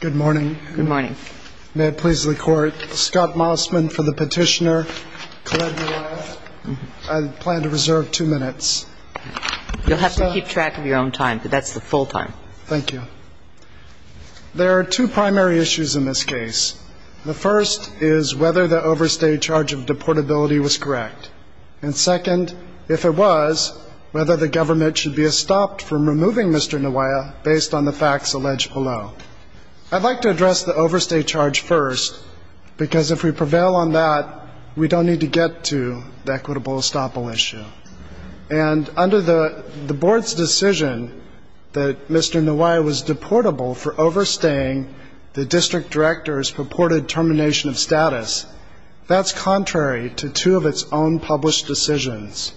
Good morning. Good morning. May it please the Court, Scott Mossman for the petitioner, Colette Nawaya. I plan to reserve two minutes. You'll have to keep track of your own time, but that's the full time. Thank you. There are two primary issues in this case. The first is whether the overstay charge of deportability was correct. And second, if it was, whether the government should be stopped from removing Mr. Nawaya based on the facts alleged below. I'd like to address the overstay charge first, because if we prevail on that, we don't need to get to the equitable estoppel issue. And under the board's decision that Mr. Nawaya was deportable for overstaying, the district directors purported termination of status. That's contrary to two of its own published decisions.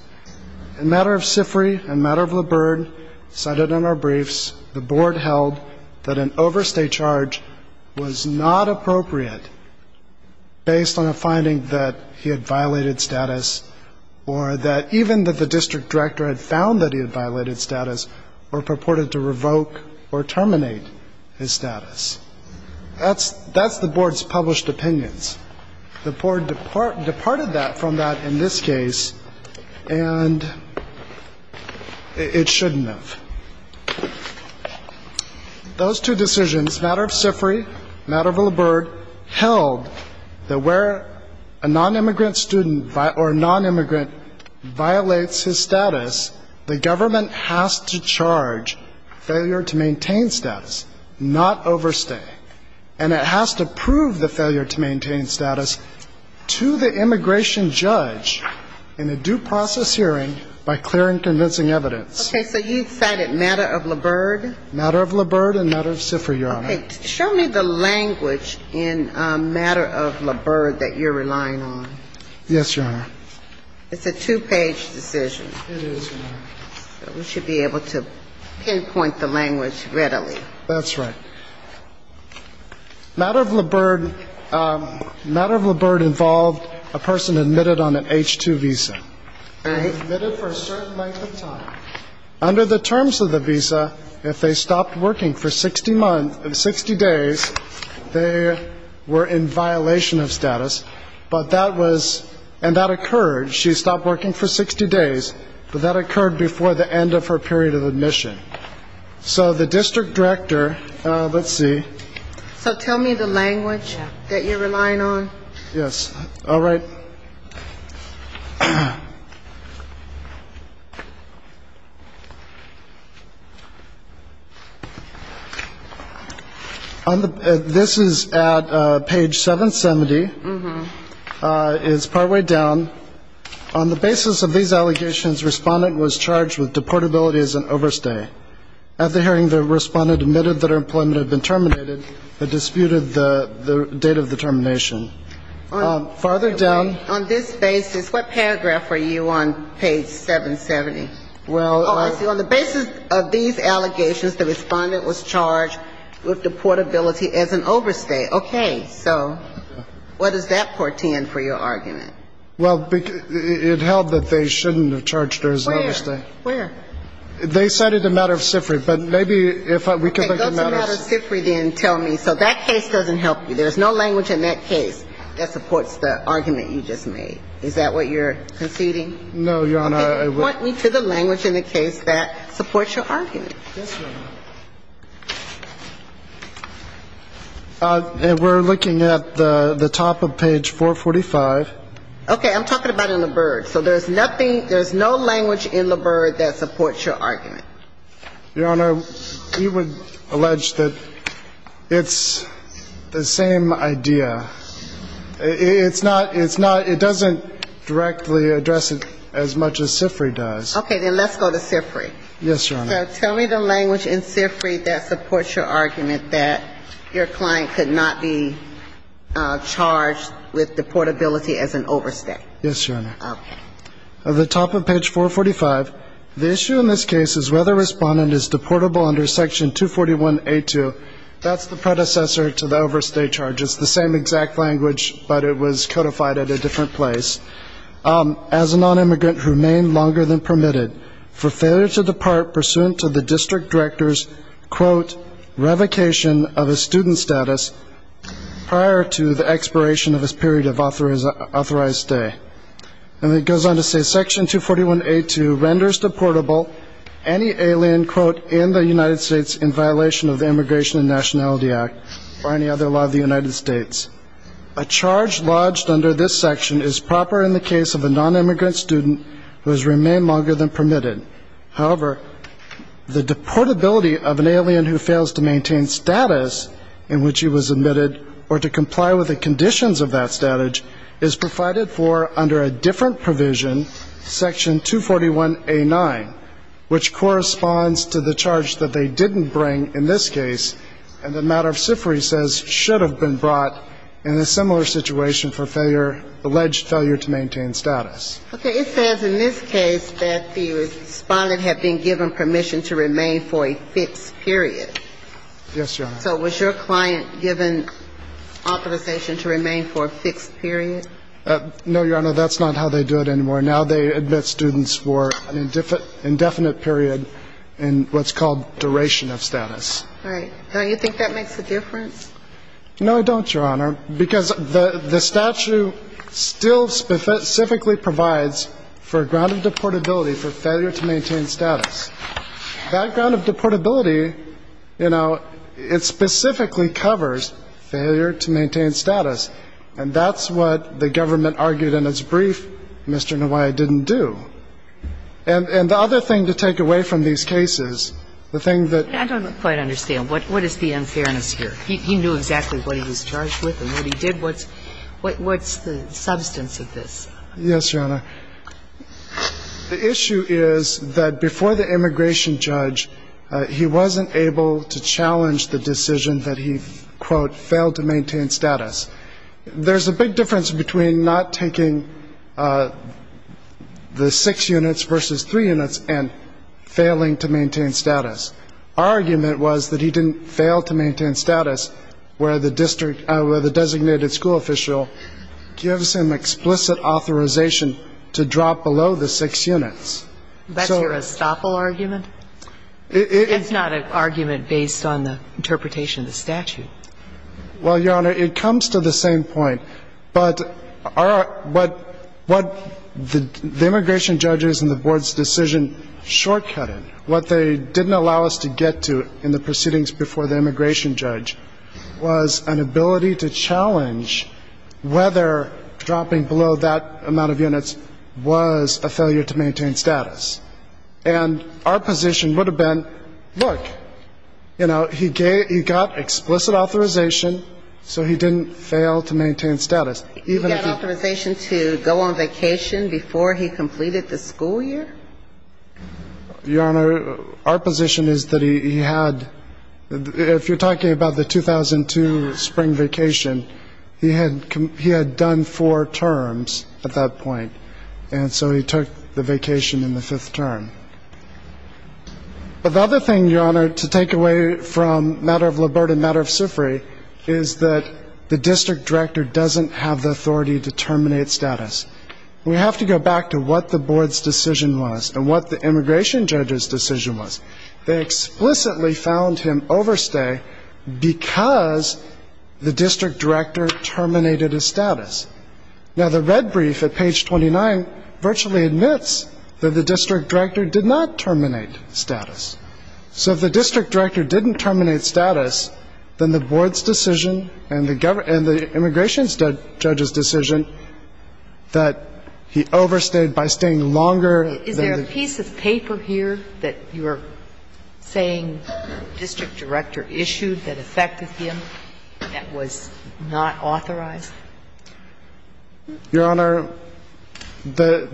In matter of SIFRI, in matter of Liburd, cited in our briefs, the board held that an overstay charge was not appropriate based on a finding that he had violated status or that even that the district director had found that he had violated status or purported to revoke or terminate his status. That's the board's published opinions. The board departed that from that in this case, and it shouldn't have. Those two decisions, matter of SIFRI, matter of Liburd, held that where a nonimmigrant student or nonimmigrant violates his status, the government has to charge failure to maintain status, not overstay. And it has to prove the failure to maintain status to the immigration judge in a due process hearing by clearing convincing evidence. Okay. So you cited matter of Liburd? Matter of Liburd and matter of SIFRI, Your Honor. Okay. Show me the language in matter of Liburd that you're relying on. Yes, Your Honor. It's a two-page decision. It is, Your Honor. We should be able to pinpoint the language readily. That's right. Matter of Liburd involved a person admitted on an H-2 visa and admitted for a certain length of time. Under the terms of the visa, if they stopped working for 60 days, they were in violation of status, and that occurred. She stopped working for 60 days, but that occurred before the end of her period of admission. So the district director, let's see. So tell me the language that you're relying on. Yes. All right. This is at page 770. It's partway down. On the basis of these allegations, respondent was charged with deportability as an overstay. At the hearing, the respondent admitted that her employment had been terminated but disputed the date of the termination. Farther down. On this basis, what paragraph are you on, page 770? Well, I see. On the basis of these allegations, the respondent was charged with deportability as an overstay. Okay. So what does that portend for your argument? Well, it held that they shouldn't have charged her as an overstay. Where? Where? They cited a matter of SIFRI, but maybe if we could look at matters of SIFRI then tell me. So that case doesn't help you. There's no language in that case that supports the argument you just made. Is that what you're conceding? No, Your Honor. Point me to the language in the case that supports your argument. Yes, Your Honor. And we're looking at the top of page 445. Okay. I'm talking about in LaBerge. So there's nothing, there's no language in LaBerge that supports your argument. Your Honor, you would allege that it's the same idea. It's not, it's not, it doesn't directly address it as much as SIFRI does. Okay. Then let's go to SIFRI. Yes, Your Honor. So tell me the language in SIFRI that supports your argument that your client could not be charged with deportability as an overstay. Yes, Your Honor. Okay. The top of page 445. The issue in this case is whether a respondent is deportable under section 241A2. That's the predecessor to the overstay charge. It's the same exact language, but it was codified at a different place. As a nonimmigrant who remained longer than permitted for failure to depart pursuing a student to the district director's, quote, revocation of a student status prior to the expiration of his period of authorized stay. And it goes on to say section 241A2 renders deportable any alien, quote, in the United States in violation of the Immigration and Nationality Act or any other law of the United States. A charge lodged under this section is proper in the case of a nonimmigrant student who has remained longer than permitted. However, the deportability of an alien who fails to maintain status in which he was admitted or to comply with the conditions of that status is provided for under a different provision, section 241A9, which corresponds to the charge that they didn't bring in this case and that matter of SIFRI says should have been brought in a similar situation for failure, alleged failure to maintain status. Okay. It says in this case that the respondent had been given permission to remain for a fixed period. Yes, Your Honor. So was your client given authorization to remain for a fixed period? No, Your Honor, that's not how they do it anymore. Now they admit students for an indefinite period in what's called duration of status. All right. Don't you think that makes a difference? No, I don't, Your Honor. Because the statute still specifically provides for a ground of deportability for failure to maintain status. That ground of deportability, you know, it specifically covers failure to maintain status. And that's what the government argued in its brief Mr. Nawaiya didn't do. And the other thing to take away from these cases, the thing that ---- I don't quite understand. What is the unfairness here? He knew exactly what he was charged with and what he did. What's the substance of this? Yes, Your Honor. The issue is that before the immigration judge, he wasn't able to challenge the decision that he, quote, failed to maintain status. There's a big difference between not taking the six units versus three units and failing to maintain status. Our argument was that he didn't fail to maintain status where the district ---- where the designated school official gives him explicit authorization to drop below the six units. That's your estoppel argument? It's not an argument based on the interpretation of the statute. Well, Your Honor, it comes to the same point. But what the immigration judges and the board's decision shortcut in, what they didn't allow us to get to in the proceedings before the immigration judge was an ability to challenge whether dropping below that amount of units was a failure to maintain status. And our position would have been, look, you know, he got explicit authorization, so he didn't fail to maintain status. You got authorization to go on vacation before he completed the school year? Your Honor, our position is that he had ---- if you're talking about the 2002 spring vacation, he had done four terms at that point, and so he took the vacation in the fifth But the other thing, Your Honor, to take away from matter of Liburd and matter of the authority to terminate status, we have to go back to what the board's decision was and what the immigration judge's decision was. They explicitly found him overstay because the district director terminated his status. Now, the red brief at page 29 virtually admits that the district director did not terminate status. So if the district director didn't terminate status, then the board's decision and the immigration judge's decision that he overstayed by staying longer than the Is there a piece of paper here that you're saying the district director issued that affected him that was not authorized? Your Honor, the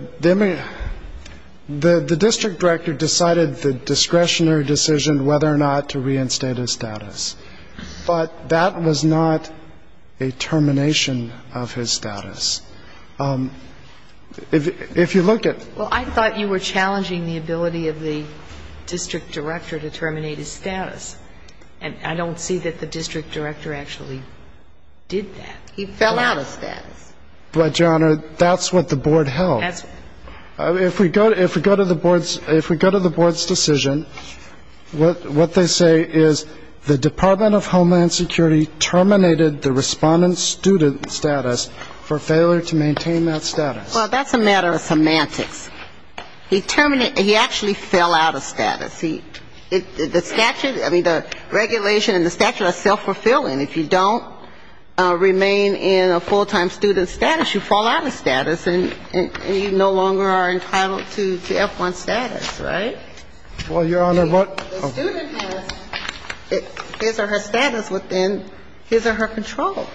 district director decided the discretionary decision whether or not to reinstate his status. But that was not a termination of his status. If you look at ---- Well, I thought you were challenging the ability of the district director to terminate his status. And I don't see that the district director actually did that. He fell out of status. But, Your Honor, that's what the board held. If we go to the board's decision, what they say is the Department of Homeland Security terminated the respondent's student status for failure to maintain that status. Well, that's a matter of semantics. He actually fell out of status. The statute, I mean, the regulation and the statute are self-fulfilling. If you don't remain in a full-time student status, you fall out of status and you no longer are entitled to F-1 status, right? Well, Your Honor, what The student has his or her status within his or her control.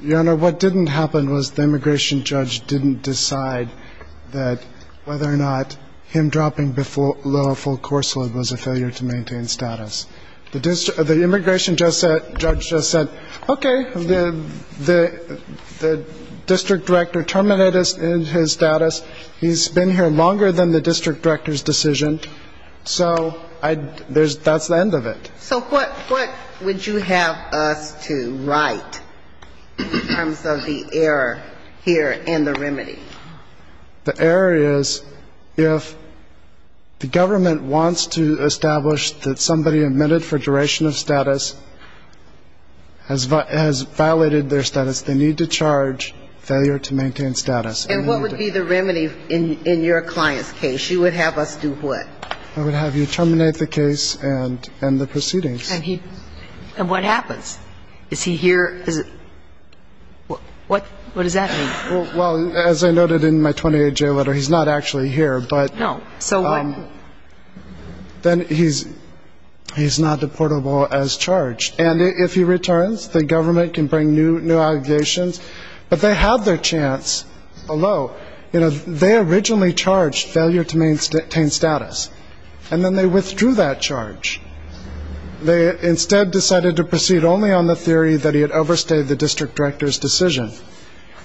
Your Honor, what didn't happen was the immigration judge didn't decide that whether or not him dropping below a full course load was a failure to maintain status. The immigration judge said, okay, the district director terminated his status. He's been here longer than the district director's decision. So that's the end of it. So what would you have us to write in terms of the error here and the remedy? The error is if the government wants to establish that somebody admitted for duration of status has violated their status, they need to charge failure to maintain status. And what would be the remedy in your client's case? You would have us do what? I would have you terminate the case and the proceedings. And what happens? Is he here? What does that mean? Well, as I noted in my 28-J letter, he's not actually here. No. So what happens? Then he's not deportable as charged. And if he returns, the government can bring new allegations. But they have their chance below. You know, they originally charged failure to maintain status. And then they withdrew that charge. They instead decided to proceed only on the theory that he had overstayed the district director's decision.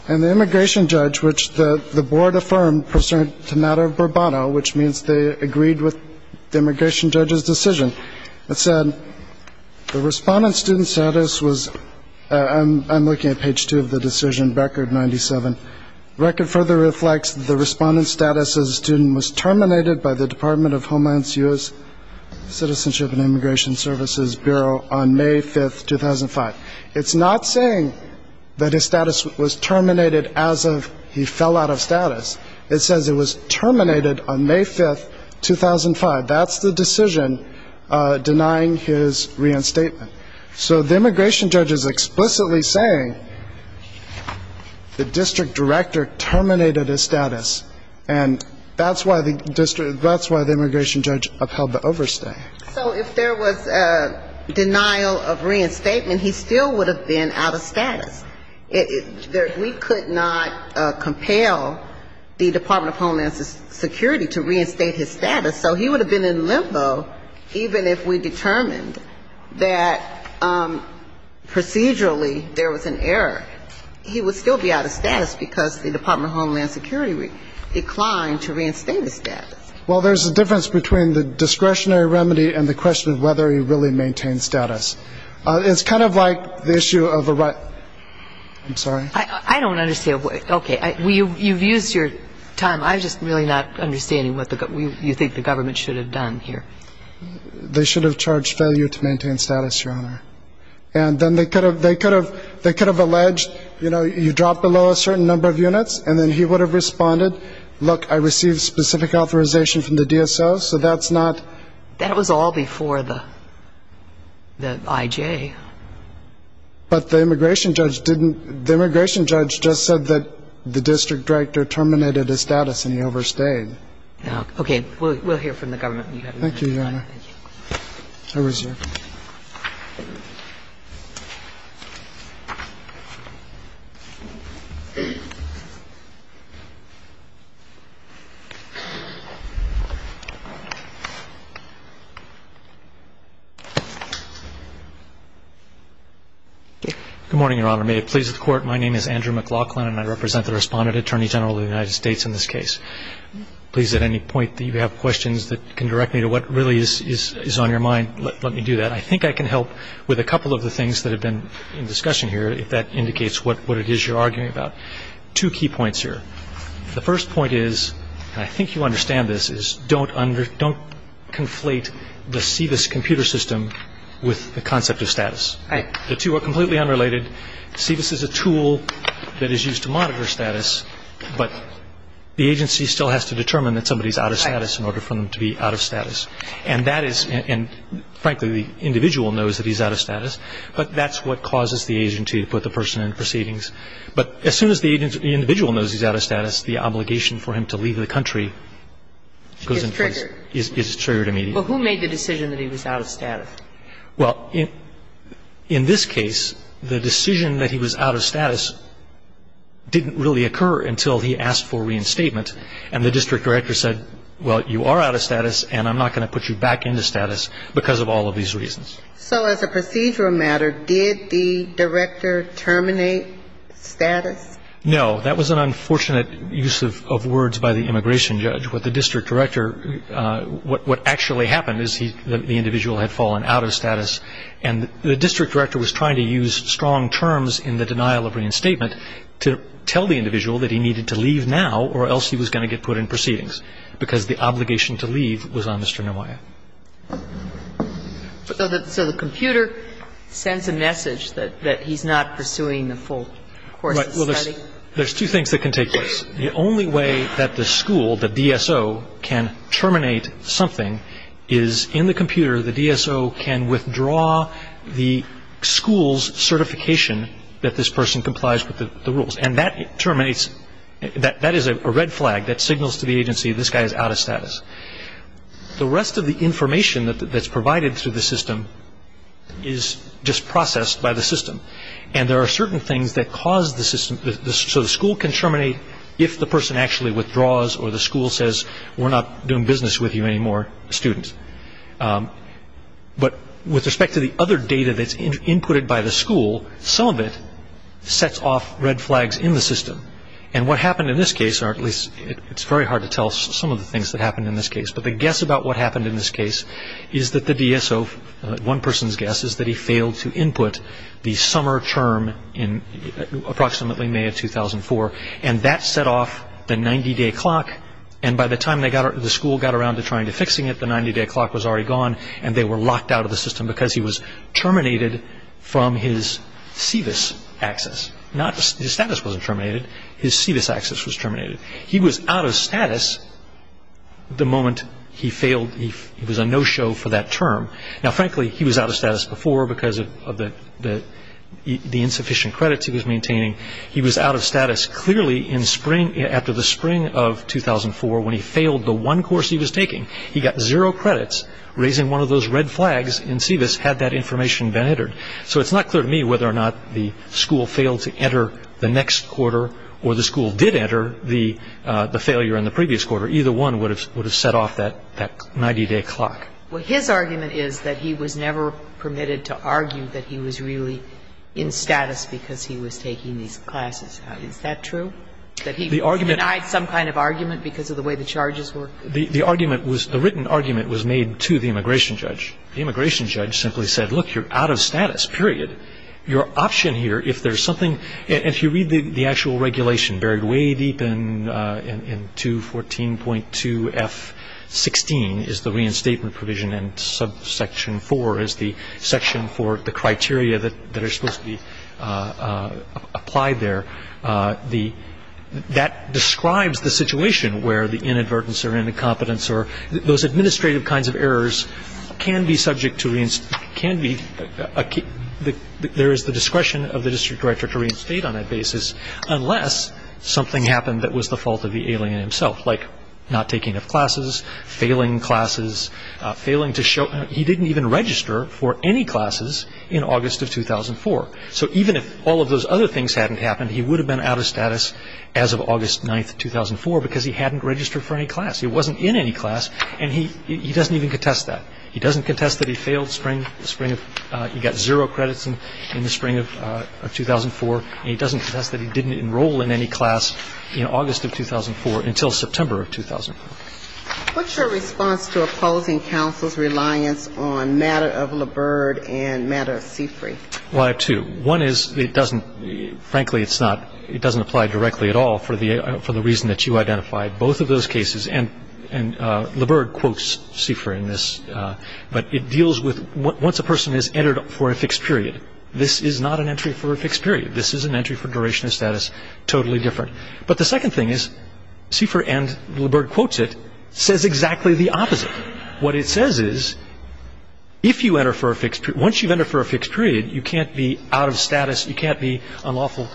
And the immigration judge, which the board affirmed, presented a matter of consent and agreed with the immigration judge's decision. It said the respondent's student status was ‑‑ I'm looking at page two of the decision, record 97. Record further reflects the respondent's status as a student was terminated by the Department of Homeland Security's Citizenship and Immigration Services Bureau on May 5, 2005. It's not saying that his status was terminated as of he fell out of status. It says it was terminated on May 5, 2005. That's the decision denying his reinstatement. So the immigration judge is explicitly saying the district director terminated his status. And that's why the district ‑‑ that's why the immigration judge upheld the overstay. So if there was denial of reinstatement, he still would have been out of status. We could not compel the Department of Homeland Security to reinstate his status. So he would have been in limbo even if we determined that procedurally there was an error. He would still be out of status because the Department of Homeland Security declined to reinstate his status. Well, there's a difference between the discretionary remedy and the question of whether he really maintained status. It's kind of like the issue of a right ‑‑ I'm sorry? I don't understand. Okay. You've used your time. I'm just really not understanding what you think the government should have done here. They should have charged failure to maintain status, Your Honor. And then they could have alleged, you know, you dropped below a certain number of units, and then he would have responded, look, I received specific authorization from the DSO, so that's not ‑‑ I mean, the administration judge just said that the district director terminated his status and he overstayed. Okay. We'll hear from the government. Thank you. Good morning, Your Honor. May it please the Court, my name is Andrew McLaughlin, and I represent the Respondent Attorney General of the United States in this case. Please, at any point that you have questions that can direct me to what really is on your mind, let me do that. I think I can help with a couple of the things that have been in discussion here, if that indicates what it is you're arguing about. Two key points here. The first point is, and I think you understand this, is don't conflate the CVIS computer system with the concept of status. The two are completely unrelated. CVIS is a tool that is used to monitor status, but the agency still has to determine that somebody is out of status in order for them to be out of status. And that is ‑‑ and, frankly, the individual knows that he's out of status, but that's what causes the agency to put the person in proceedings. But as soon as the individual knows he's out of status, the obligation for him to leave the country goes in place. Is triggered. Is triggered immediately. Well, who made the decision that he was out of status? Well, in this case, the decision that he was out of status didn't really occur until he asked for reinstatement. And the district director said, well, you are out of status, and I'm not going to put you back into status because of all of these reasons. So as a procedural matter, did the director terminate status? No. That was an unfortunate use of words by the immigration judge. What actually happened is the individual had fallen out of status, and the district director was trying to use strong terms in the denial of reinstatement to tell the individual that he needed to leave now or else he was going to get put in proceedings because the obligation to leave was on Mr. Neumeier. So the computer sends a message that he's not pursuing the full course of study? Right. Well, there's two things that can take place. The only way that the school, the DSO, can terminate something is in the computer. The DSO can withdraw the school's certification that this person complies with the rules, and that is a red flag that signals to the agency this guy is out of status. The rest of the information that's provided through the system is just processed by the system, and there are certain things that cause the system. So the school can terminate if the person actually withdraws or the school says we're not doing business with you anymore, students. But with respect to the other data that's inputted by the school, some of it sets off red flags in the system, and what happened in this case, or at least it's very hard to tell some of the things that happened in this case, but the guess about what happened in this case is that the DSO, one person's guess is that he failed to input the summer term in approximately May of 2004, and that set off the 90-day clock, and by the time the school got around to trying to fixing it, the 90-day clock was already gone, and they were locked out of the system because he was terminated from his SEVIS access. His status wasn't terminated. His SEVIS access was terminated. He was out of status the moment he failed. He was a no-show for that term. Now, frankly, he was out of status before because of the insufficient credits he was maintaining. He was out of status clearly after the spring of 2004 when he failed the one course he was taking. He got zero credits raising one of those red flags in SEVIS had that information been entered. So it's not clear to me whether or not the school failed to enter the next quarter or the school did enter the failure in the previous quarter. Either one would have set off that 90-day clock. Well, his argument is that he was never permitted to argue that he was really in status because he was taking these classes. Is that true, that he denied some kind of argument because of the way the charges were? The argument was the written argument was made to the immigration judge. The immigration judge simply said, look, you're out of status, period. Your option here, if there's something, if you read the actual regulation buried way deep in 214.2 F16 is the reinstatement provision and subsection 4 is the section for the criteria that are supposed to be applied there. That describes the situation where the inadvertence or incompetence or those administrative kinds of errors can be subject to, can be, there is the discretion of the district director to reinstate on that basis unless something happened that was the fault of the alien himself, like not taking enough classes, failing classes, failing to show, he didn't even register for any classes in August of 2004. So even if all of those other things hadn't happened, he would have been out of status as of August 9th, 2004 because he hadn't registered for any class. He wasn't in any class and he doesn't even contest that. He doesn't contest that he failed spring of, he got zero credits in the spring of 2004 and he doesn't contest that he didn't enroll in any class in August of 2004 until September of 2004. What's your response to opposing counsel's reliance on matter of Liburd and matter of Seafree? Well, I have two. One is it doesn't, frankly, it's not, it doesn't apply directly at all for the reason that you identified. Both of those cases, and Liburd quotes Seafree in this, but it deals with once a person has entered for a fixed period. This is not an entry for a fixed period. This is an entry for duration of status, totally different. But the second thing is, Seafree and Liburd quotes it, says exactly the opposite. What it says is, if you enter for a fixed, once you've entered for a fixed period, you can't be out of status, you can't be unlawful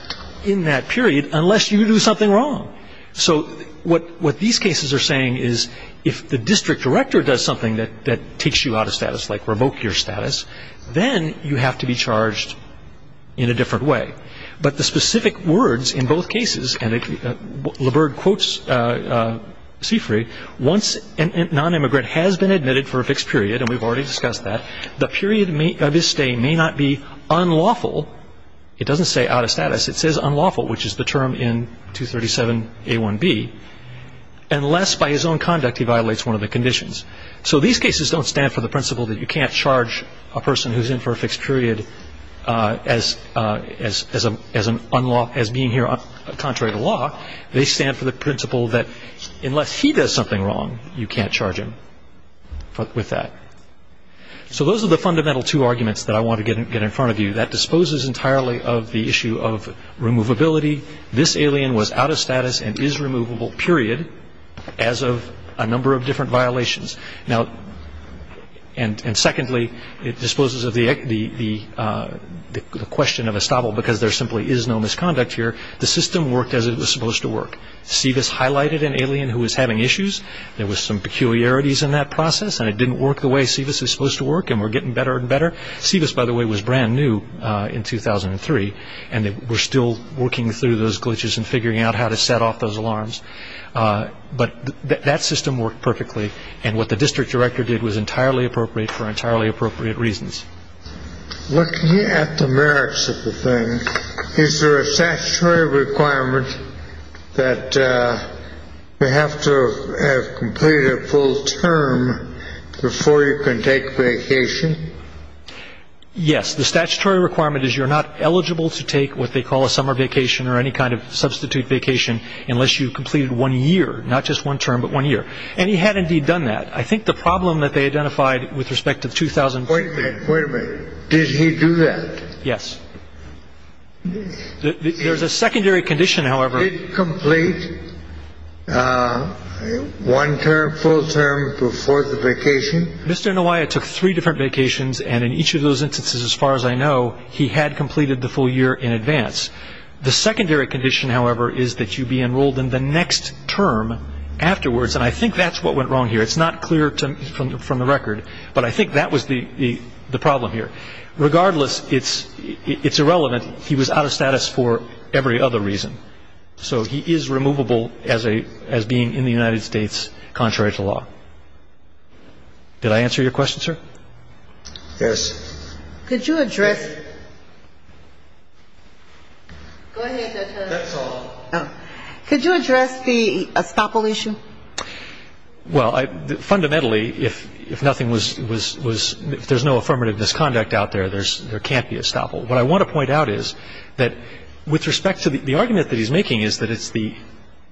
in that period unless you do something wrong. So what these cases are saying is, if the district director does something that takes you out of status, like revoke your status, then you have to be charged in a different way. But the specific words in both cases, and Liburd quotes Seafree, once a nonimmigrant has been admitted for a fixed period, and we've already discussed that, the period of his stay may not be unlawful. It doesn't say out of status. It says unlawful, which is the term in 237a1b, unless by his own conduct he violates one of the conditions. So these cases don't stand for the principle that you can't charge a person who's in for a fixed period as being here contrary to law. They stand for the principle that unless he does something wrong, you can't charge him with that. So those are the fundamental two arguments that I want to get in front of you. That disposes entirely of the issue of removability. This alien was out of status and is removable, period, as of a number of different violations. Now, and secondly, it disposes of the question of estoppel because there simply is no misconduct here. The system worked as it was supposed to work. SEVIS highlighted an alien who was having issues. There was some peculiarities in that process, and it didn't work the way SEVIS was supposed to work, and we're getting better and better. SEVIS, by the way, was brand new in 2003, and we're still working through those glitches and figuring out how to set off those alarms. But that system worked perfectly, and what the district director did was entirely appropriate for entirely appropriate reasons. Looking at the merits of the thing, Is there a statutory requirement that you have to have completed a full term before you can take vacation? Yes. The statutory requirement is you're not eligible to take what they call a summer vacation or any kind of substitute vacation unless you've completed one year, not just one term, but one year. And he had, indeed, done that. I think the problem that they identified with respect to the 2000- Wait a minute. Did he do that? Yes. There's a secondary condition, however. Did he complete one term, full term, before the vacation? Mr. Inouye took three different vacations, and in each of those instances, as far as I know, he had completed the full year in advance. The secondary condition, however, is that you be enrolled in the next term afterwards, and I think that's what went wrong here. It's not clear from the record, but I think that was the problem here. Regardless, it's irrelevant. He was out of status for every other reason. So he is removable as being in the United States contrary to law. Did I answer your question, sir? Yes. Could you address the estoppel issue? Well, fundamentally, if there's no affirmative misconduct out there, there can't be estoppel. What I want to point out is that with respect to the argument that he's making is that it's the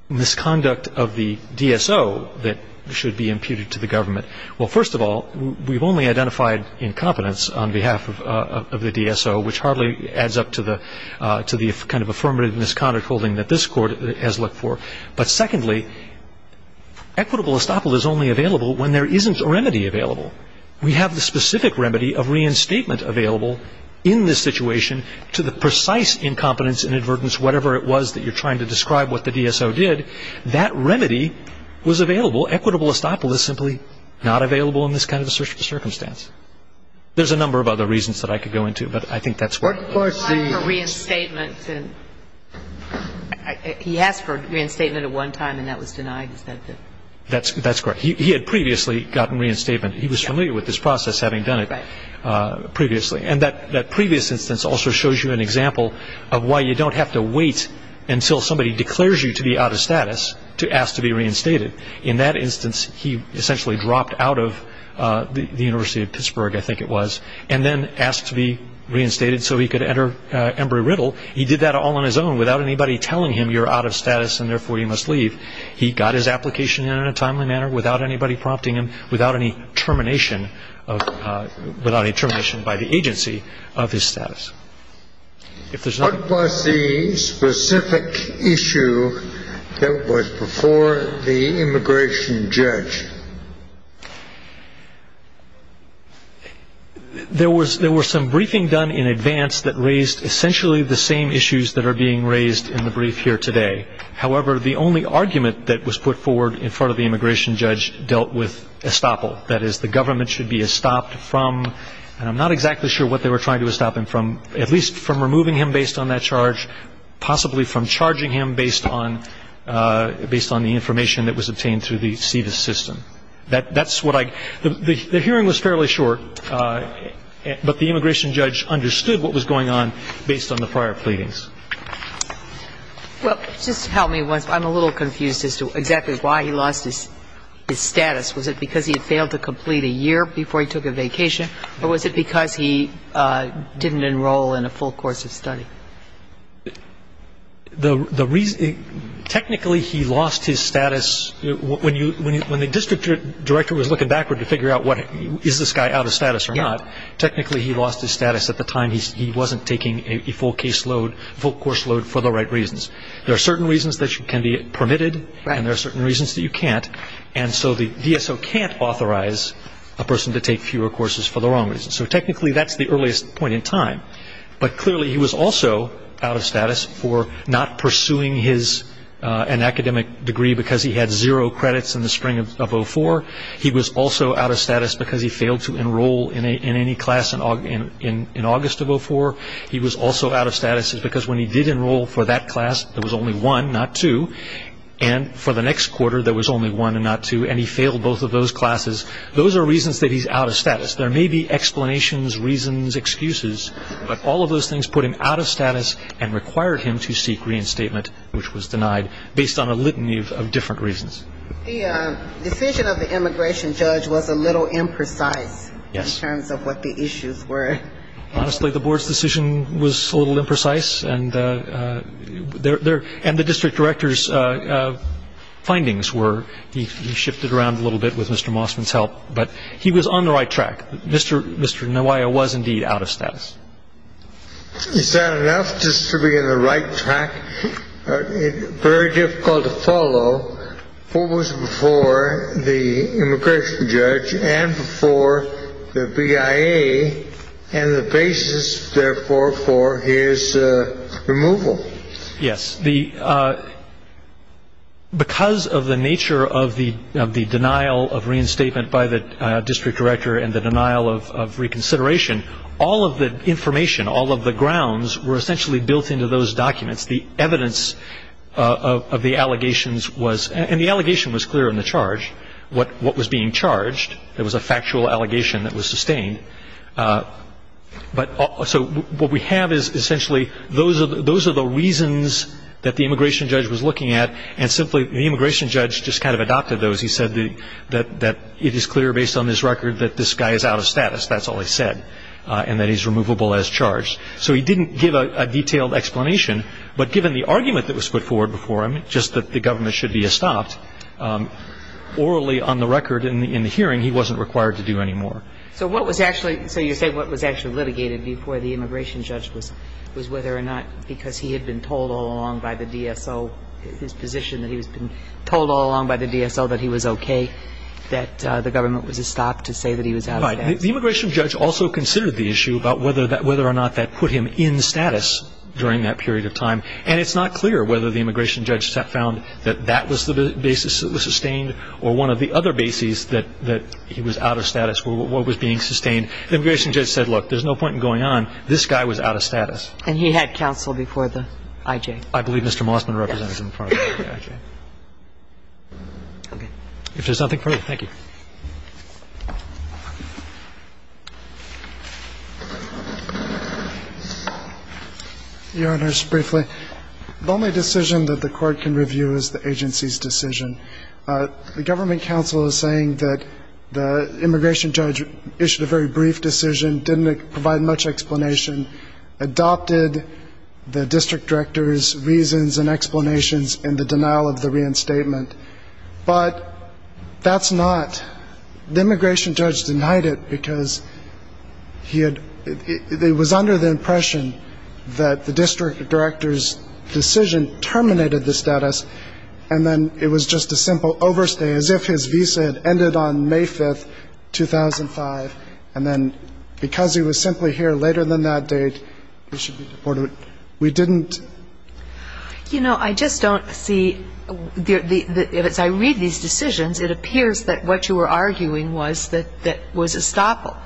misconduct of the DSO that should be imputed to the government. Well, first of all, we've only identified incompetence on behalf of the DSO, which hardly adds up to the kind of affirmative misconduct holding that this Court has looked for. But secondly, equitable estoppel is only available when there isn't a remedy available. We have the specific remedy of reinstatement available in this situation to the precise incompetence and inadvertence, whatever it was that you're trying to describe what the DSO did. That remedy was available. Equitable estoppel is simply not available in this kind of circumstance. There's a number of other reasons that I could go into, but I think that's what the question is. He asked for reinstatement. He asked for reinstatement at one time, and that was denied. That's correct. He had previously gotten reinstatement. He was familiar with this process, having done it previously. And that previous instance also shows you an example of why you don't have to wait until somebody declares you to be out of status to ask to be reinstated. In that instance, he essentially dropped out of the University of Pittsburgh, I think it was, and then asked to be reinstated so he could enter Embry-Riddle. He did that all on his own without anybody telling him you're out of status and therefore you must leave. He got his application in in a timely manner without anybody prompting him, without any termination by the agency of his status. What was the specific issue that was before the immigration judge? There was some briefing done in advance that raised essentially the same issues that are being raised in the brief here today. However, the only argument that was put forward in front of the immigration judge dealt with estoppel. That is, the government should be estopped from, and I'm not exactly sure what they were trying to estoppel him from, at least from removing him based on that charge, possibly from charging him based on the information that was obtained through the SEVIS system. That's what I, the hearing was fairly short, but the immigration judge understood what was going on based on the prior pleadings. Well, just help me once. I'm a little confused as to exactly why he lost his status. Was it because he had failed to complete a year before he took a vacation, or was it because he didn't enroll in a full course of study? The reason, technically he lost his status, when the district director was looking backward to figure out is this guy out of status or not, technically he lost his status at the time he wasn't taking a full case load, full course load for the right reasons. There are certain reasons that you can be permitted, and there are certain reasons that you can't. And so the DSO can't authorize a person to take fewer courses for the wrong reasons. So technically that's the earliest point in time. But clearly he was also out of status for not pursuing an academic degree because he had zero credits in the spring of 2004. He was also out of status because he failed to enroll in any class in August of 2004. He was also out of status because when he did enroll for that class there was only one, not two, and for the next quarter there was only one and not two, and he failed both of those classes. Those are reasons that he's out of status. There may be explanations, reasons, excuses, but all of those things put him out of status and required him to seek reinstatement, which was denied based on a litany of different reasons. The decision of the immigration judge was a little imprecise in terms of what the issues were. Honestly, the board's decision was a little imprecise, and the district director's findings were, he shifted around a little bit with Mr. Mossman's help, but he was on the right track. Mr. Nowaya was indeed out of status. Is that enough just to be on the right track? It's very difficult to follow what was before the immigration judge and before the BIA and the basis, therefore, for his removal. Yes. Because of the nature of the denial of reinstatement by the district director and the denial of reconsideration, all of the information, all of the grounds, were essentially built into those documents. The evidence of the allegations was, and the allegation was clear in the charge, what was being charged. It was a factual allegation that was sustained. So what we have is essentially those are the reasons that the immigration judge was looking at, and simply the immigration judge just kind of adopted those. He said that it is clear based on this record that this guy is out of status, that's all he said, and that he's removable as charged. So he didn't give a detailed explanation, but given the argument that was put forward before him, just that the government should be estopped, orally on the record in the hearing, he wasn't required to do any more. So what was actually, so you say what was actually litigated before the immigration judge was whether or not because he had been told all along by the DSO, his position that he had been told all along by the DSO that he was okay, that the government was estopped to say that he was out of status? Right. The immigration judge also considered the issue about whether or not that put him in status during that period of time. And it's not clear whether the immigration judge found that that was the basis that was sustained or one of the other bases that he was out of status or what was being sustained. The immigration judge said, look, there's no point in going on. This guy was out of status. And he had counsel before the I.J.? I believe Mr. Mossman represented him before the I.J. Okay. If there's nothing further, thank you. Your Honor, just briefly, the only decision that the court can review is the agency's decision. The government counsel is saying that the immigration judge issued a very brief decision, didn't provide much explanation, adopted the district director's reasons and explanations in the denial of the reinstatement. But that's not, the immigration judge denied it because he had, it was under the impression that the district director's decision terminated the status. And then it was just a simple overstay, as if his visa had ended on May 5, 2005. And then because he was simply here later than that date, he should be deported. We didn't. You know, I just don't see, as I read these decisions, it appears that what you were arguing was that that was estoppel,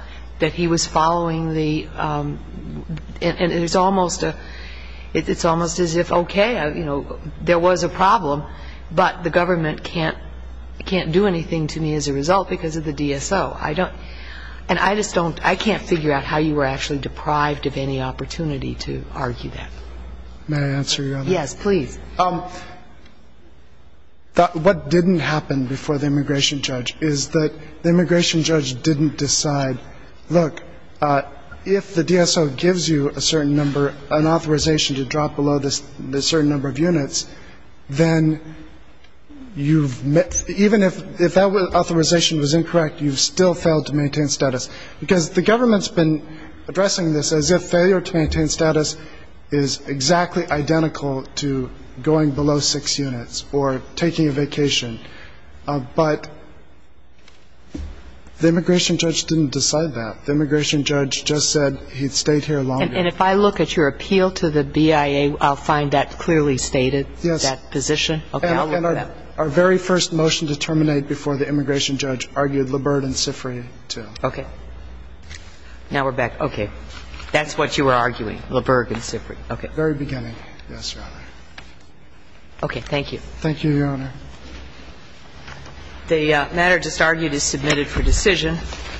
that he was following the, and it's almost as if, okay, there was a problem, but the government can't do anything to me as a result because of the DSO. And I just don't, I can't figure out how you were actually deprived of any opportunity to argue that. May I answer your other question? Yes, please. What didn't happen before the immigration judge is that the immigration judge didn't decide, look, if the DSO gives you a certain number, an authorization to drop below a certain number of units, then you've, even if that authorization was incorrect, you've still failed to maintain status. Because the government's been addressing this as if failure to maintain status is exactly identical to going below six units or taking a vacation. But the immigration judge didn't decide that. The immigration judge just said he'd stayed here longer. And if I look at your appeal to the BIA, I'll find that clearly stated, that position? Yes. Okay, I'll look at that. Our very first motion to terminate before the immigration judge argued LaBerg and Sifri, too. Okay. Now we're back. Okay. That's what you were arguing, LaBerg and Sifri. Okay. Very beginning, yes, Your Honor. Okay, thank you. Thank you, Your Honor. The matter just argued is submitted for decision.